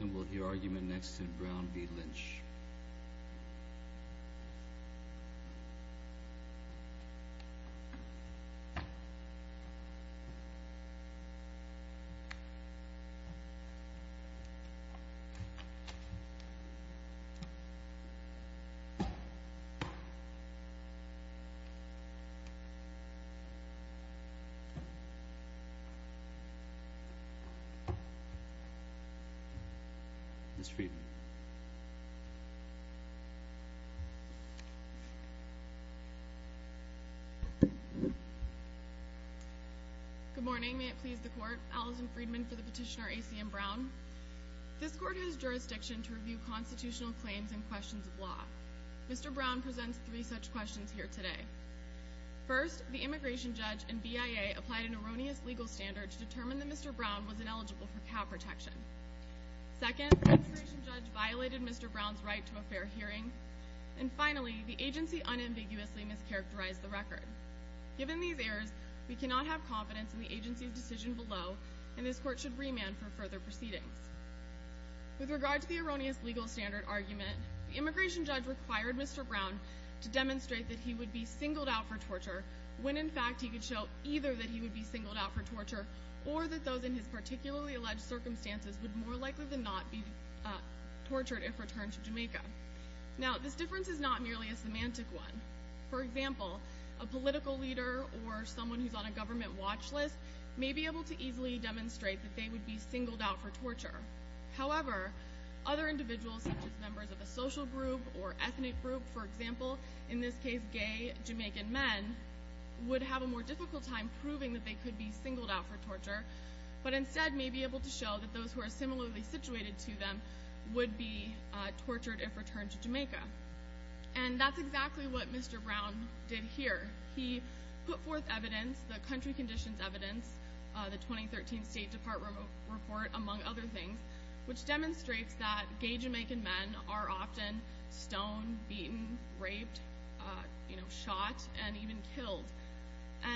And we'll hear argument next in Brown v. Lynch. Ms. Friedman. Good morning, may it please the Court. Allison Friedman for the petitioner ACM Brown. This Court has jurisdiction to review constitutional claims and questions of law. Mr. Brown presents three such questions here today. First, the immigration judge and BIA applied an erroneous legal standard to determine that Mr. Brown was ineligible for cow protection. Second, the immigration judge violated Mr. Brown's right to a fair hearing. And finally, the agency unambiguously mischaracterized the record. Given these errors, we cannot have confidence in the agency's decision below and this Court should remand for further proceedings. With regard to the erroneous legal standard argument, the immigration judge required Mr. Brown to demonstrate that he would be singled out for torture when in fact he could show either that he would be singled out for torture or that those in his particularly alleged circumstances would more likely than not be tortured if returned to Jamaica. Now, this difference is not merely a semantic one. For example, a political leader or someone who's on a government watch list may be able to easily demonstrate that they would be singled out for torture. However, other individuals such as members of a social group or ethnic group, for example, in this case gay Jamaican men, would have a more difficult time proving that they could be singled out for torture, but instead may be able to show that those who are similarly situated to them would be tortured if returned to Jamaica. And that's exactly what Mr. Brown did here. He put forth evidence, the country conditions evidence, the 2013 State Department report, among other things, which demonstrates that gay Jamaican men are often stoned, beaten, raped, shot, and even killed.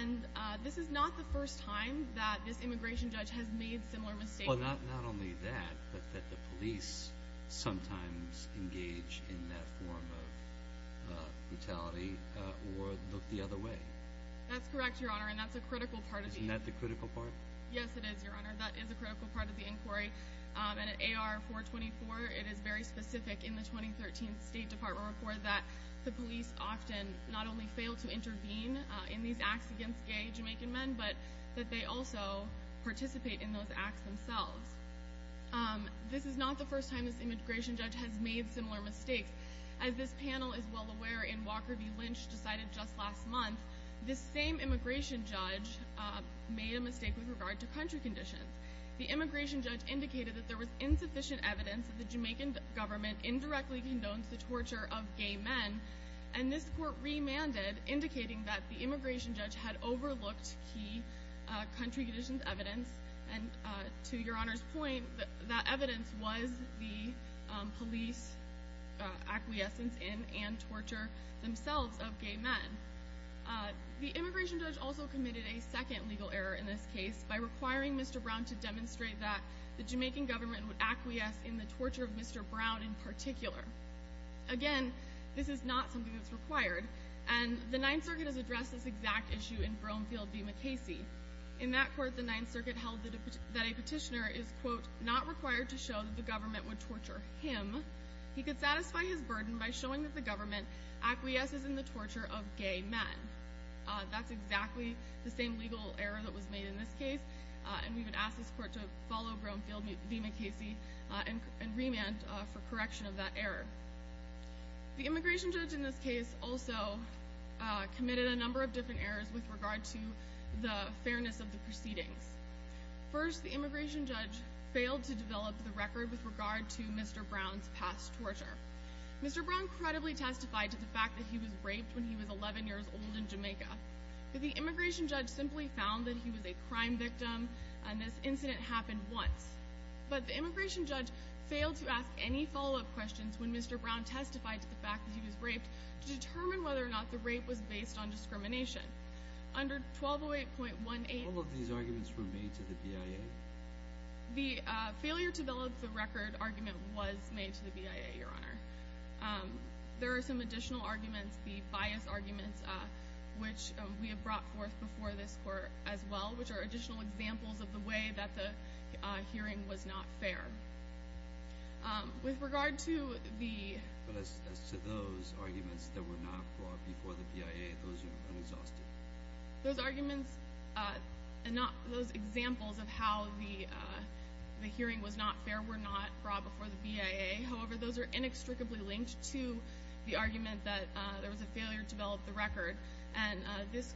And this is not the first time that this immigration judge has made similar mistakes. Well, not only that, but that the police sometimes engage in that form of brutality or look the other way. That's correct, Your Honor, and that's a critical part of the inquiry. Isn't that the critical part? Yes, it is, Your Honor. That is a critical part of the inquiry. And at AR-424, it is very specific in the 2013 State Department report that the police often not only fail to intervene in these acts against gay Jamaican men, but that they also participate in those acts themselves. This is not the first time this immigration judge has made similar mistakes. As this panel is well aware, in Walker v. Lynch, decided just last month, this same immigration judge made a mistake with regard to country conditions. The immigration judge indicated that there was insufficient evidence that the Jamaican government indirectly condones the torture of gay men, and this court remanded, indicating that the immigration judge had overlooked key country conditions evidence, and to Your Honor's point, that evidence was the police acquiescence in and torture themselves of gay men. The immigration judge also committed a second legal error in this case by requiring Mr. Brown to demonstrate that the Jamaican government would acquiesce in the torture of Mr. Brown in particular. Again, this is not something that's required, and the Ninth Circuit has addressed this exact issue in Broomfield v. McCasey. In that court, the Ninth Circuit held that a petitioner is, quote, not required to show that the government would torture him. He could satisfy his burden by showing that the government acquiesces in the torture of gay men. That's exactly the same legal error that was made in this case, and we would ask this court to follow Broomfield v. McCasey and remand for correction of that error. The immigration judge in this case also committed a number of different errors with regard to the fairness of the proceedings. First, the immigration judge failed to develop the record with regard to Mr. Brown's past torture. Mr. Brown credibly testified to the fact that he was raped when he was 11 years old in Jamaica. The immigration judge simply found that he was a crime victim, and this incident happened once. But the immigration judge failed to ask any follow-up questions when Mr. Brown testified to the fact that he was raped to determine whether or not the rape was based on discrimination. Under 1208.18, all of these arguments were made to the BIA. The failure to develop the record argument was made to the BIA, Your Honor. There are some additional arguments, the bias arguments, which we have brought forth before this court as well, which are additional examples of the way that the hearing was not fair. With regard to those arguments that were not brought before the BIA, those are unexhausted. Those arguments and those examples of how the hearing was not fair were not brought before the BIA. However, those are inextricably linked to the argument that there was a failure to develop the record, and this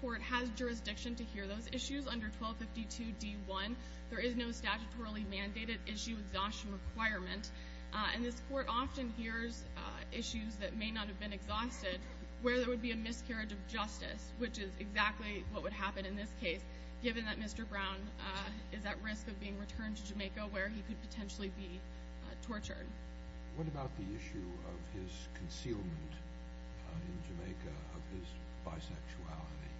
court has jurisdiction to hear those issues. Under 1252.d.1, there is no statutorily mandated issue exhaustion requirement, and this court often hears issues that may not have been exhausted where there would be a miscarriage of justice, which is exactly what would happen in this case, given that Mr. Brown is at risk of being returned to Jamaica where he could potentially be tortured. What about the issue of his concealment in Jamaica of his bisexuality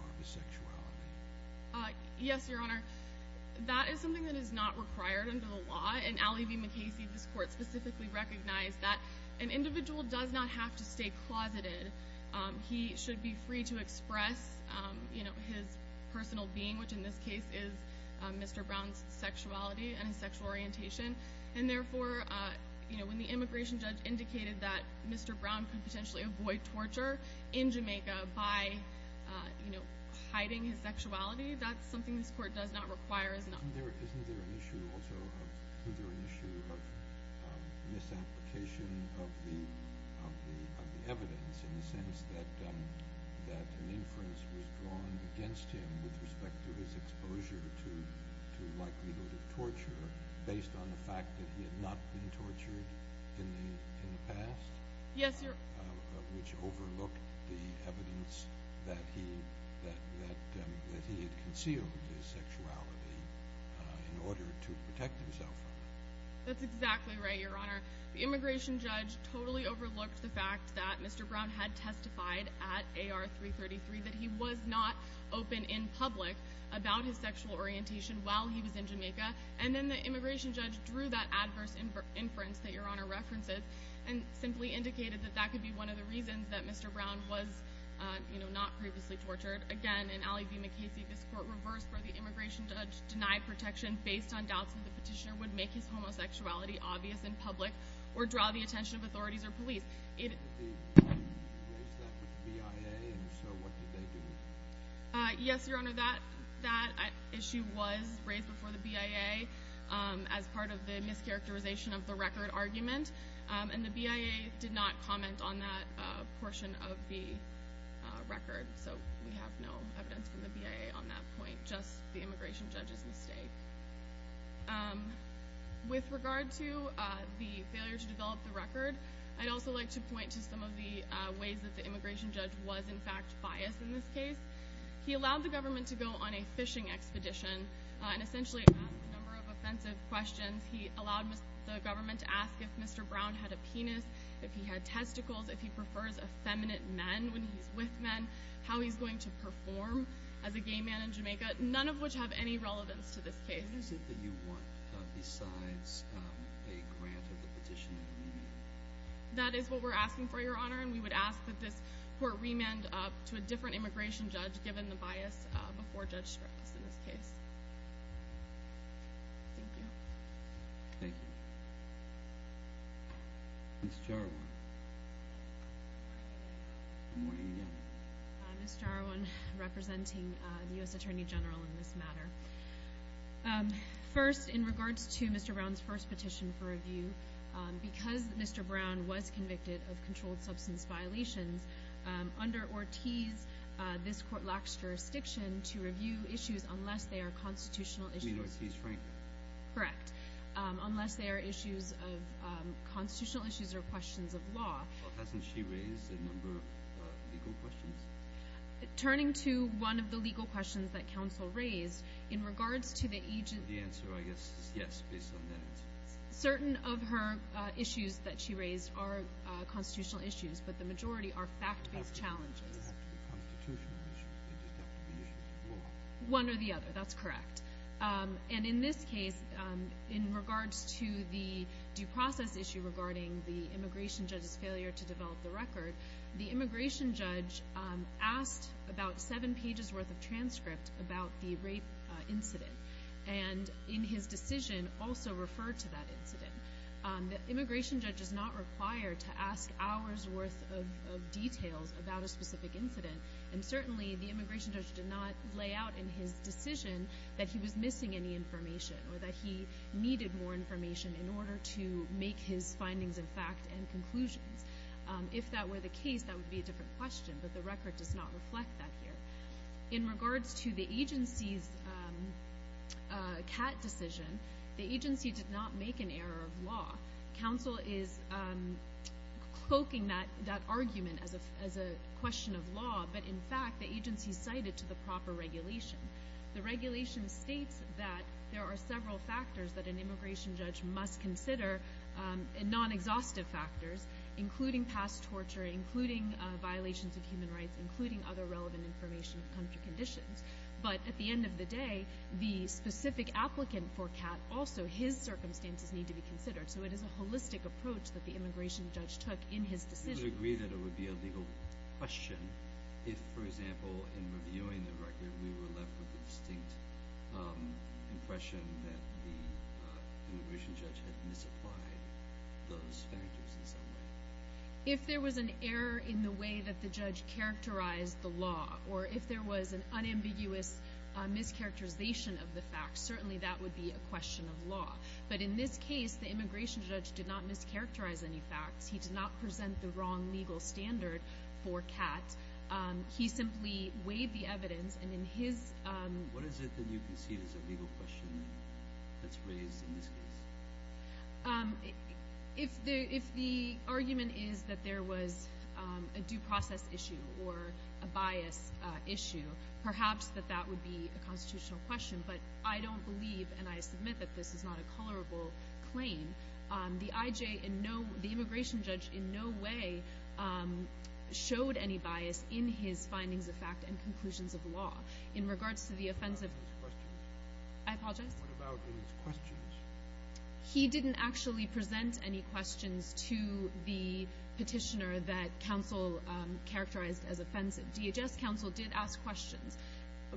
or bisexuality? Yes, Your Honor. That is something that is not required under the law, and Allie V. McKay sees this court specifically recognize that an individual does not have to stay closeted. He should be free to express his personal being, which in this case is Mr. Brown's sexuality and his sexual orientation, and therefore when the immigration judge indicated that Mr. Brown could potentially avoid torture in Jamaica by hiding his sexuality, that's something this court does not require. Isn't there an issue also of misapplication of the evidence in the sense that an inference was drawn against him with respect to his exposure to likelihood of torture based on the fact that he had not been tortured in the past? Yes, Your Honor. Which overlooked the evidence that he had concealed his sexuality in order to protect himself. That's exactly right, Your Honor. The immigration judge totally overlooked the fact that Mr. Brown had testified at AR-333 that he was not open in public about his sexual orientation while he was in Jamaica, and then the immigration judge drew that adverse inference that Your Honor references and simply indicated that that could be one of the reasons that Mr. Brown was not previously tortured. Again, in Allie V. McKay's view, this court reversed where the immigration judge denied protection based on doubts that the petitioner would make his homosexuality obvious in public or draw the attention of authorities or police. Did he raise that with the BIA, and if so, what did they do? Yes, Your Honor. That issue was raised before the BIA as part of the mischaracterization of the record argument, and the BIA did not comment on that portion of the record, so we have no evidence from the BIA on that point, just the immigration judge's mistake. With regard to the failure to develop the record, I'd also like to point to some of the ways that the immigration judge was in fact biased in this case. He allowed the government to go on a fishing expedition and essentially ask a number of offensive questions. He allowed the government to ask if Mr. Brown had a penis, if he had testicles, if he prefers effeminate men when he's with men, how he's going to perform as a gay man in Jamaica, none of which have any relevance to this case. What is it that you want besides a grant of the petition and remand? That is what we're asking for, Your Honor, and we would ask that this court remand to a different immigration judge given the bias before Judge Strauss in this case. Thank you. Thank you. Ms. Jarwan. Good morning again. Ms. Jarwan, representing the U.S. Attorney General in this matter. First, in regards to Mr. Brown's first petition for review, because Mr. Brown was convicted of controlled substance violations, under Ortiz, this court lacks jurisdiction to review issues unless they are constitutional issues. You mean Ortiz-Frank? Correct. Unless they are issues of constitutional issues or questions of law. Well, hasn't she raised a number of legal questions? Turning to one of the legal questions that counsel raised, in regards to the agents... The answer, I guess, is yes, based on that. Certain of her issues that she raised are constitutional issues, but the majority are fact-based challenges. They don't have to be constitutional issues. They just have to be issues of law. One or the other. That's correct. And in this case, in regards to the due process issue regarding the immigration judge's failure to develop the record, the immigration judge asked about seven pages' worth of transcript about the rape incident and in his decision also referred to that incident. The immigration judge is not required to ask hours' worth of details about a specific incident, and certainly the immigration judge did not lay out in his decision that he was missing any information or that he needed more information in order to make his findings and fact and conclusions. If that were the case, that would be a different question, but the record does not reflect that here. In regards to the agency's CAT decision, the agency did not make an error of law. Council is cloaking that argument as a question of law, but, in fact, the agency cited to the proper regulation. The regulation states that there are several factors that an immigration judge must consider, non-exhaustive factors, including past torture, including violations of human rights, including other relevant information of country conditions, but at the end of the day, the specific applicant for CAT also, his circumstances need to be considered, so it is a holistic approach that the immigration judge took in his decision. Do you agree that it would be a legal question if, for example, in reviewing the record, we were left with the distinct impression that the immigration judge had misapplied those factors in some way? If there was an error in the way that the judge characterized the law or if there was an unambiguous mischaracterization of the facts, certainly that would be a question of law, but in this case, the immigration judge did not mischaracterize any facts. He did not present the wrong legal standard for CAT. He simply weighed the evidence, and in his— What is it that you can see as a legal question that's raised in this case? If the argument is that there was a due process issue or a bias issue, perhaps that that would be a constitutional question, but I don't believe, and I submit that this is not a colorable claim. The IJ in no—the immigration judge in no way showed any bias in his findings of fact and conclusions of law. In regards to the offensive— What about his questions? I apologize? What about his questions? He didn't actually present any questions to the petitioner that counsel characterized as offensive. DHS counsel did ask questions.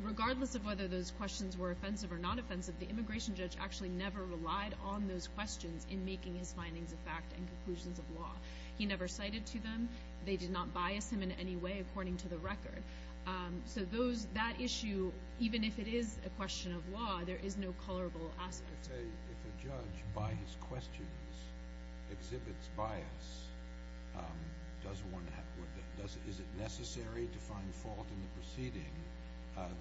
Regardless of whether those questions were offensive or not offensive, the immigration judge actually never relied on those questions in making his findings of fact and conclusions of law. He never cited to them. They did not bias him in any way according to the record. So those—that issue, even if it is a question of law, there is no colorable aspect. If a judge, by his questions, exhibits bias, does one have—is it necessary to find fault in the proceeding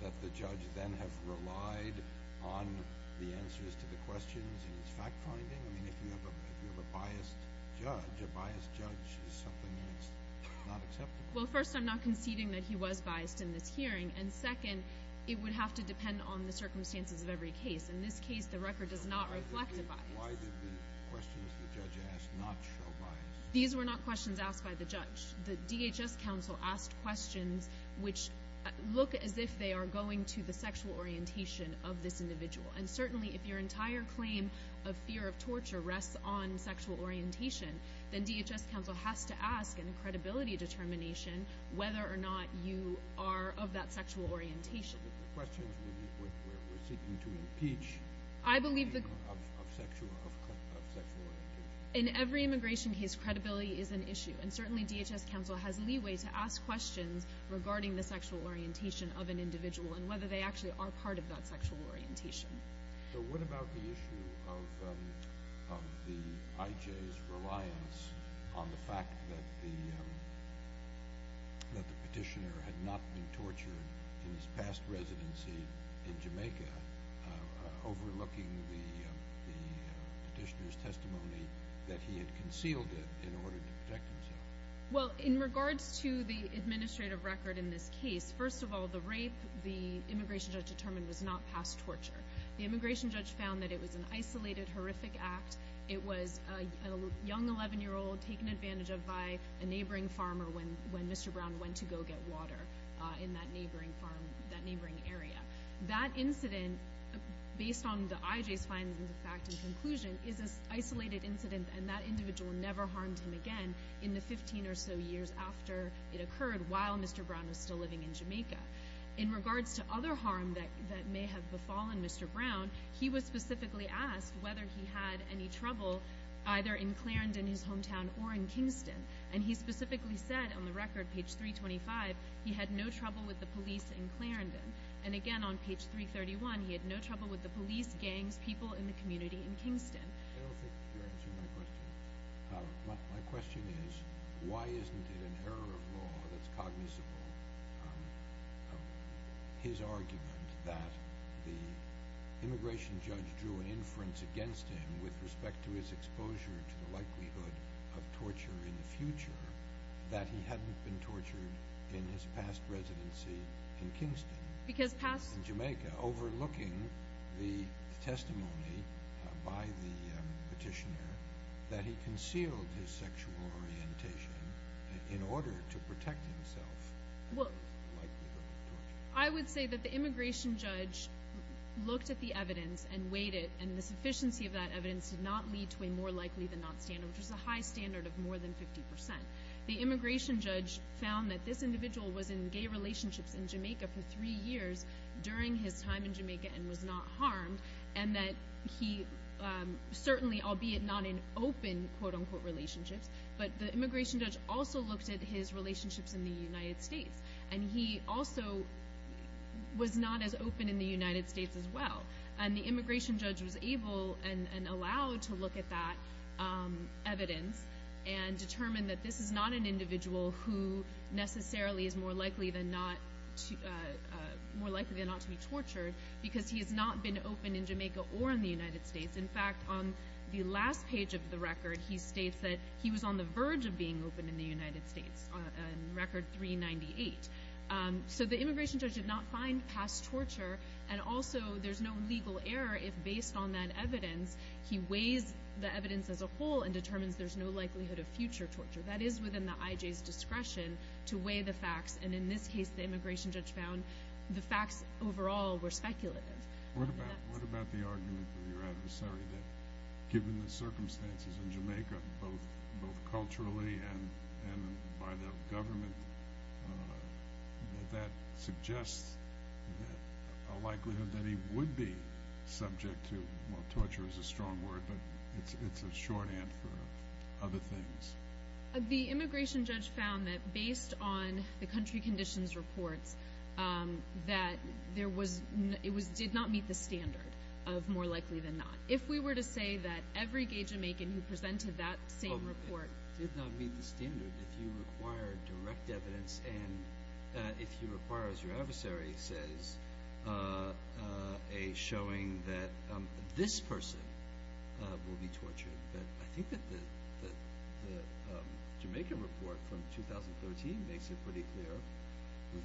that the judge then has relied on the answers to the questions in his fact-finding? I mean, if you have a biased judge, a biased judge is something that's not acceptable. Well, first, I'm not conceding that he was biased in this hearing, and second, it would have to depend on the circumstances of every case. In this case, the record does not reflect a bias. Why did the questions the judge asked not show bias? These were not questions asked by the judge. The DHS counsel asked questions which look as if they are going to the sexual orientation of this individual. And certainly, if your entire claim of fear of torture rests on sexual orientation, then DHS counsel has to ask in a credibility determination whether or not you are of that sexual orientation. So the questions were seeking to impeach— I believe the— —of sexual orientation. In every immigration case, credibility is an issue, and certainly DHS counsel has leeway to ask questions regarding the sexual orientation of an individual and whether they actually are part of that sexual orientation. So what about the issue of the IJ's reliance on the fact that the petitioner had not been tortured in his past residency in Jamaica, overlooking the petitioner's testimony that he had concealed it in order to protect himself? Well, in regards to the administrative record in this case, first of all, the rape, the immigration judge determined, was not past torture. The immigration judge found that it was an isolated, horrific act. It was a young 11-year-old taken advantage of by a neighboring farmer when Mr. Brown went to go get water in that neighboring area. That incident, based on the IJ's findings of fact and conclusion, is an isolated incident, and that individual never harmed him again in the 15 or so years after it occurred, while Mr. Brown was still living in Jamaica. In regards to other harm that may have befallen Mr. Brown, he was specifically asked whether he had any trouble either in Clarendon, his hometown, or in Kingston. And he specifically said on the record, page 325, he had no trouble with the police in Clarendon. And again on page 331, he had no trouble with the police, gangs, people in the community in Kingston. I don't think you're answering my question. My question is, why isn't it an error of law that's cognizable, his argument that the immigration judge drew an inference against him with respect to his exposure to the likelihood of torture in the future, that he hadn't been tortured in his past residency in Kingston, in Jamaica, overlooking the testimony by the petitioner that he concealed his sexual orientation in order to protect himself from the likelihood of torture? I would say that the immigration judge looked at the evidence and weighed it, and the sufficiency of that evidence did not lead to a more likely than not standard, which is a high standard of more than 50%. The immigration judge found that this individual was in gay relationships in Jamaica for three years during his time in Jamaica and was not harmed, and that he certainly, albeit not in open quote-unquote relationships, but the immigration judge also looked at his relationships in the United States, and he also was not as open in the United States as well. And the immigration judge was able and allowed to look at that evidence and determine that this is not an individual who necessarily is more likely than not to be tortured because he has not been open in Jamaica or in the United States. In fact, on the last page of the record, he states that he was on the verge of being open in the United States, on record 398. So the immigration judge did not find past torture, and also there's no legal error if based on that evidence he weighs the evidence as a whole and determines there's no likelihood of future torture. That is within the IJ's discretion to weigh the facts, and in this case the immigration judge found the facts overall were speculative. What about the argument of your adversary that given the circumstances in Jamaica, both culturally and by the government, that that suggests a likelihood that he would be subject to, well, torture is a strong word, but it's a shorthand for other things. The immigration judge found that based on the country conditions reports that it did not meet the standard of more likely than not. If we were to say that every gay Jamaican who presented that same report did not meet the standard if you require direct evidence and if you require, as your adversary says, a showing that this person will be tortured, I think that the Jamaica report from 2013 makes it pretty clear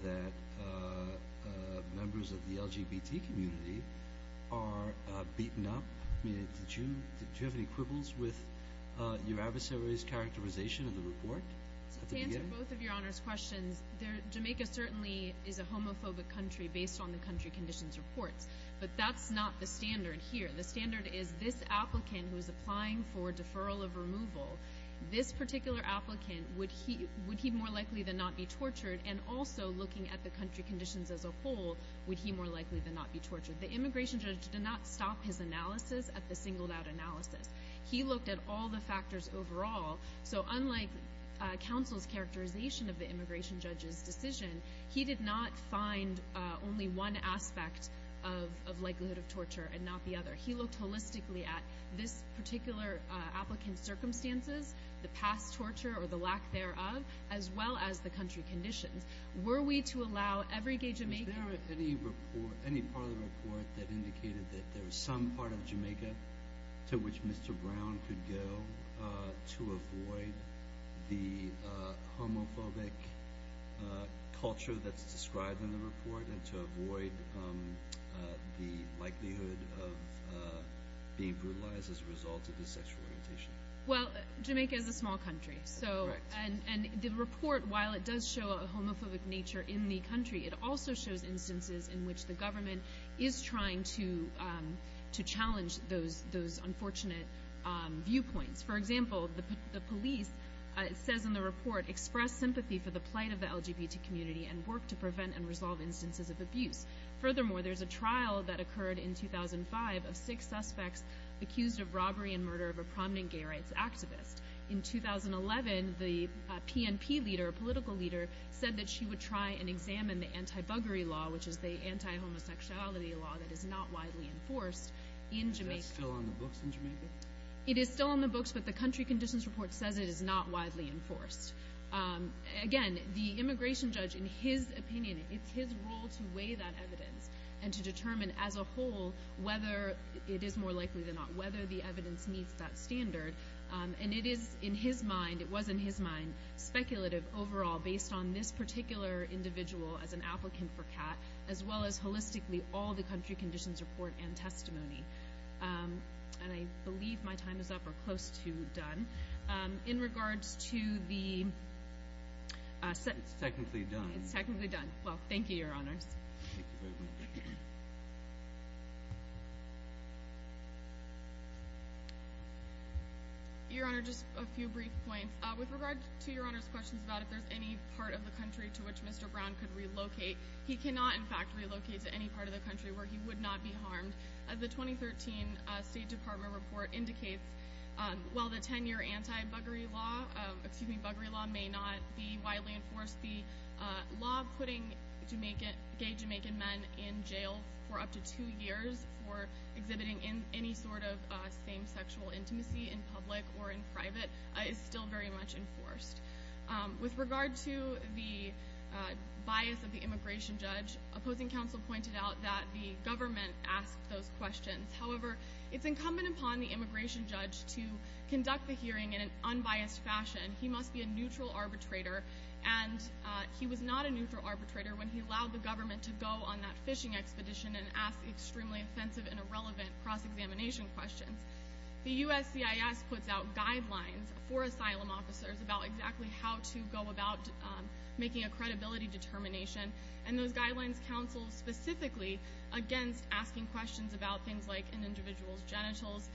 that members of the LGBT community are beaten up. Do you have any quibbles with your adversary's characterization of the report? To answer both of your Honor's questions, Jamaica certainly is a homophobic country based on the country conditions reports, but that's not the standard here. The standard is this applicant who is applying for deferral of removal, this particular applicant, would he more likely than not be tortured? And also, looking at the country conditions as a whole, would he more likely than not be tortured? The immigration judge did not stop his analysis at the singled-out analysis. He looked at all the factors overall, so unlike counsel's characterization of the immigration judge's decision, he did not find only one aspect of likelihood of torture and not the other. He looked holistically at this particular applicant's circumstances, the past torture or the lack thereof, as well as the country conditions. Were we to allow every gay Jamaican— Was there any part of the report that indicated that there was some part of Jamaica to which Mr. Brown could go to avoid the homophobic culture that's described in the report and to avoid the likelihood of being brutalized as a result of his sexual orientation? Well, Jamaica is a small country, and the report, while it does show a homophobic nature in the country, it also shows instances in which the government is trying to challenge those unfortunate viewpoints. for the plight of the LGBT community and work to prevent and resolve instances of abuse. Furthermore, there's a trial that occurred in 2005 of six suspects accused of robbery and murder of a prominent gay rights activist. In 2011, the PNP leader, a political leader, said that she would try and examine the anti-buggery law, which is the anti-homosexuality law that is not widely enforced in Jamaica. Is that still on the books in Jamaica? It is still on the books, but the country conditions report says it is not widely enforced. Again, the immigration judge, in his opinion, it's his role to weigh that evidence and to determine as a whole whether it is more likely than not, whether the evidence meets that standard. And it is in his mind, it was in his mind, speculative overall based on this particular individual as an applicant for CAT as well as holistically all the country conditions report and testimony. And I believe my time is up or close to done. In regards to the... It's technically done. It's technically done. Well, thank you, Your Honours. Your Honour, just a few brief points. With regard to Your Honours' questions about if there's any part of the country to which Mr. Brown could relocate, he cannot, in fact, relocate to any part of the country where he would not be harmed. As the 2013 State Department report indicates, while the 10-year anti-buggery law, excuse me, buggery law may not be widely enforced, the law putting gay Jamaican men in jail for up to two years for exhibiting any sort of same-sexual intimacy in public or in private is still very much enforced. With regard to the bias of the immigration judge, opposing counsel pointed out that the government asked those questions. However, it's incumbent upon the immigration judge to conduct the hearing in an unbiased fashion. He must be a neutral arbitrator, and he was not a neutral arbitrator when he allowed the government to go on that fishing expedition and ask extremely offensive and irrelevant cross-examination questions. The USCIS puts out guidelines for asylum officers about exactly how to go about making a credibility determination, and those guidelines counsel specifically against asking questions about things like an individual's genitals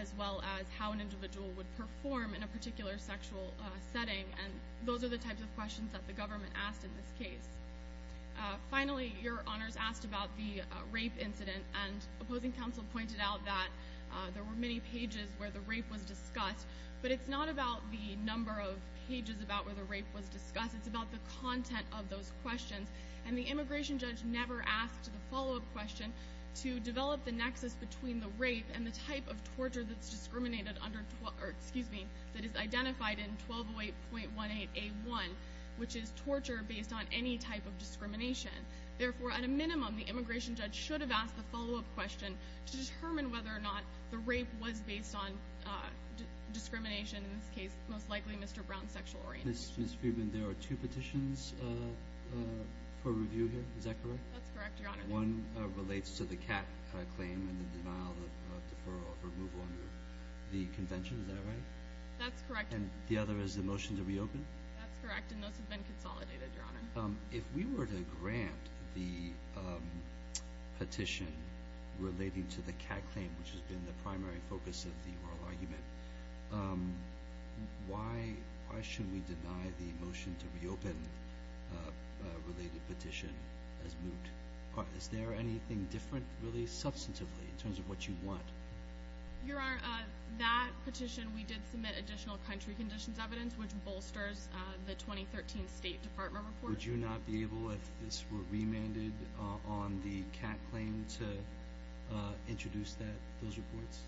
as well as how an individual would perform in a particular sexual setting, and those are the types of questions that the government asked in this case. Finally, Your Honors asked about the rape incident, and opposing counsel pointed out that there were many pages where the rape was discussed, but it's not about the number of pages about where the rape was discussed. It's about the content of those questions, and the immigration judge never asked the follow-up question to develop the nexus between the rape and the type of torture that is identified in 1208.18A1, which is torture based on any type of discrimination. Therefore, at a minimum, the immigration judge should have asked the follow-up question to determine whether or not the rape was based on discrimination, in this case, most likely Mr. Brown's sexual orientation. Ms. Friedman, there are two petitions for review here. Is that correct? That's correct, Your Honor. One relates to the cat claim and the denial of deferral for removal under the convention. Is that right? That's correct. And the other is the motion to reopen? That's correct, and those have been consolidated, Your Honor. If we were to grant the petition relating to the cat claim, which has been the primary focus of the oral argument, why should we deny the motion to reopen related petition as moved? Is there anything different, really, substantively, in terms of what you want? Your Honor, that petition, we did submit additional country conditions evidence, which bolsters the 2013 State Department report. Would you not be able, if this were remanded on the cat claim, to introduce those reports?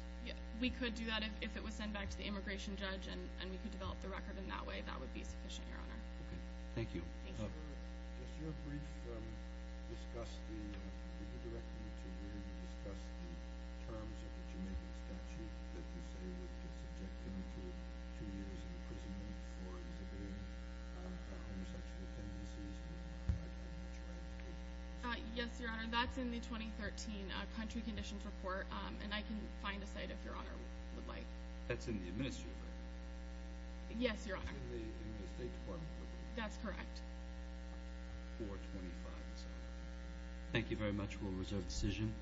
We could do that if it was sent back to the immigration judge and we could develop the record in that way. That would be sufficient, Your Honor. Okay. Thank you. Thank you. Ms. Weber, just your brief discussion, you were directing me to where you discussed the terms of the Juneteenth statute that you say would be subjected until two years in prison in the form of a homosexual tendency, is that correct? Yes, Your Honor, that's in the 2013 country conditions report, and I can find a site if Your Honor would like. That's in the administrative record? Yes, Your Honor. It's in the State Department report? That's correct. 425, is that right? Thank you very much. We'll reserve the decision.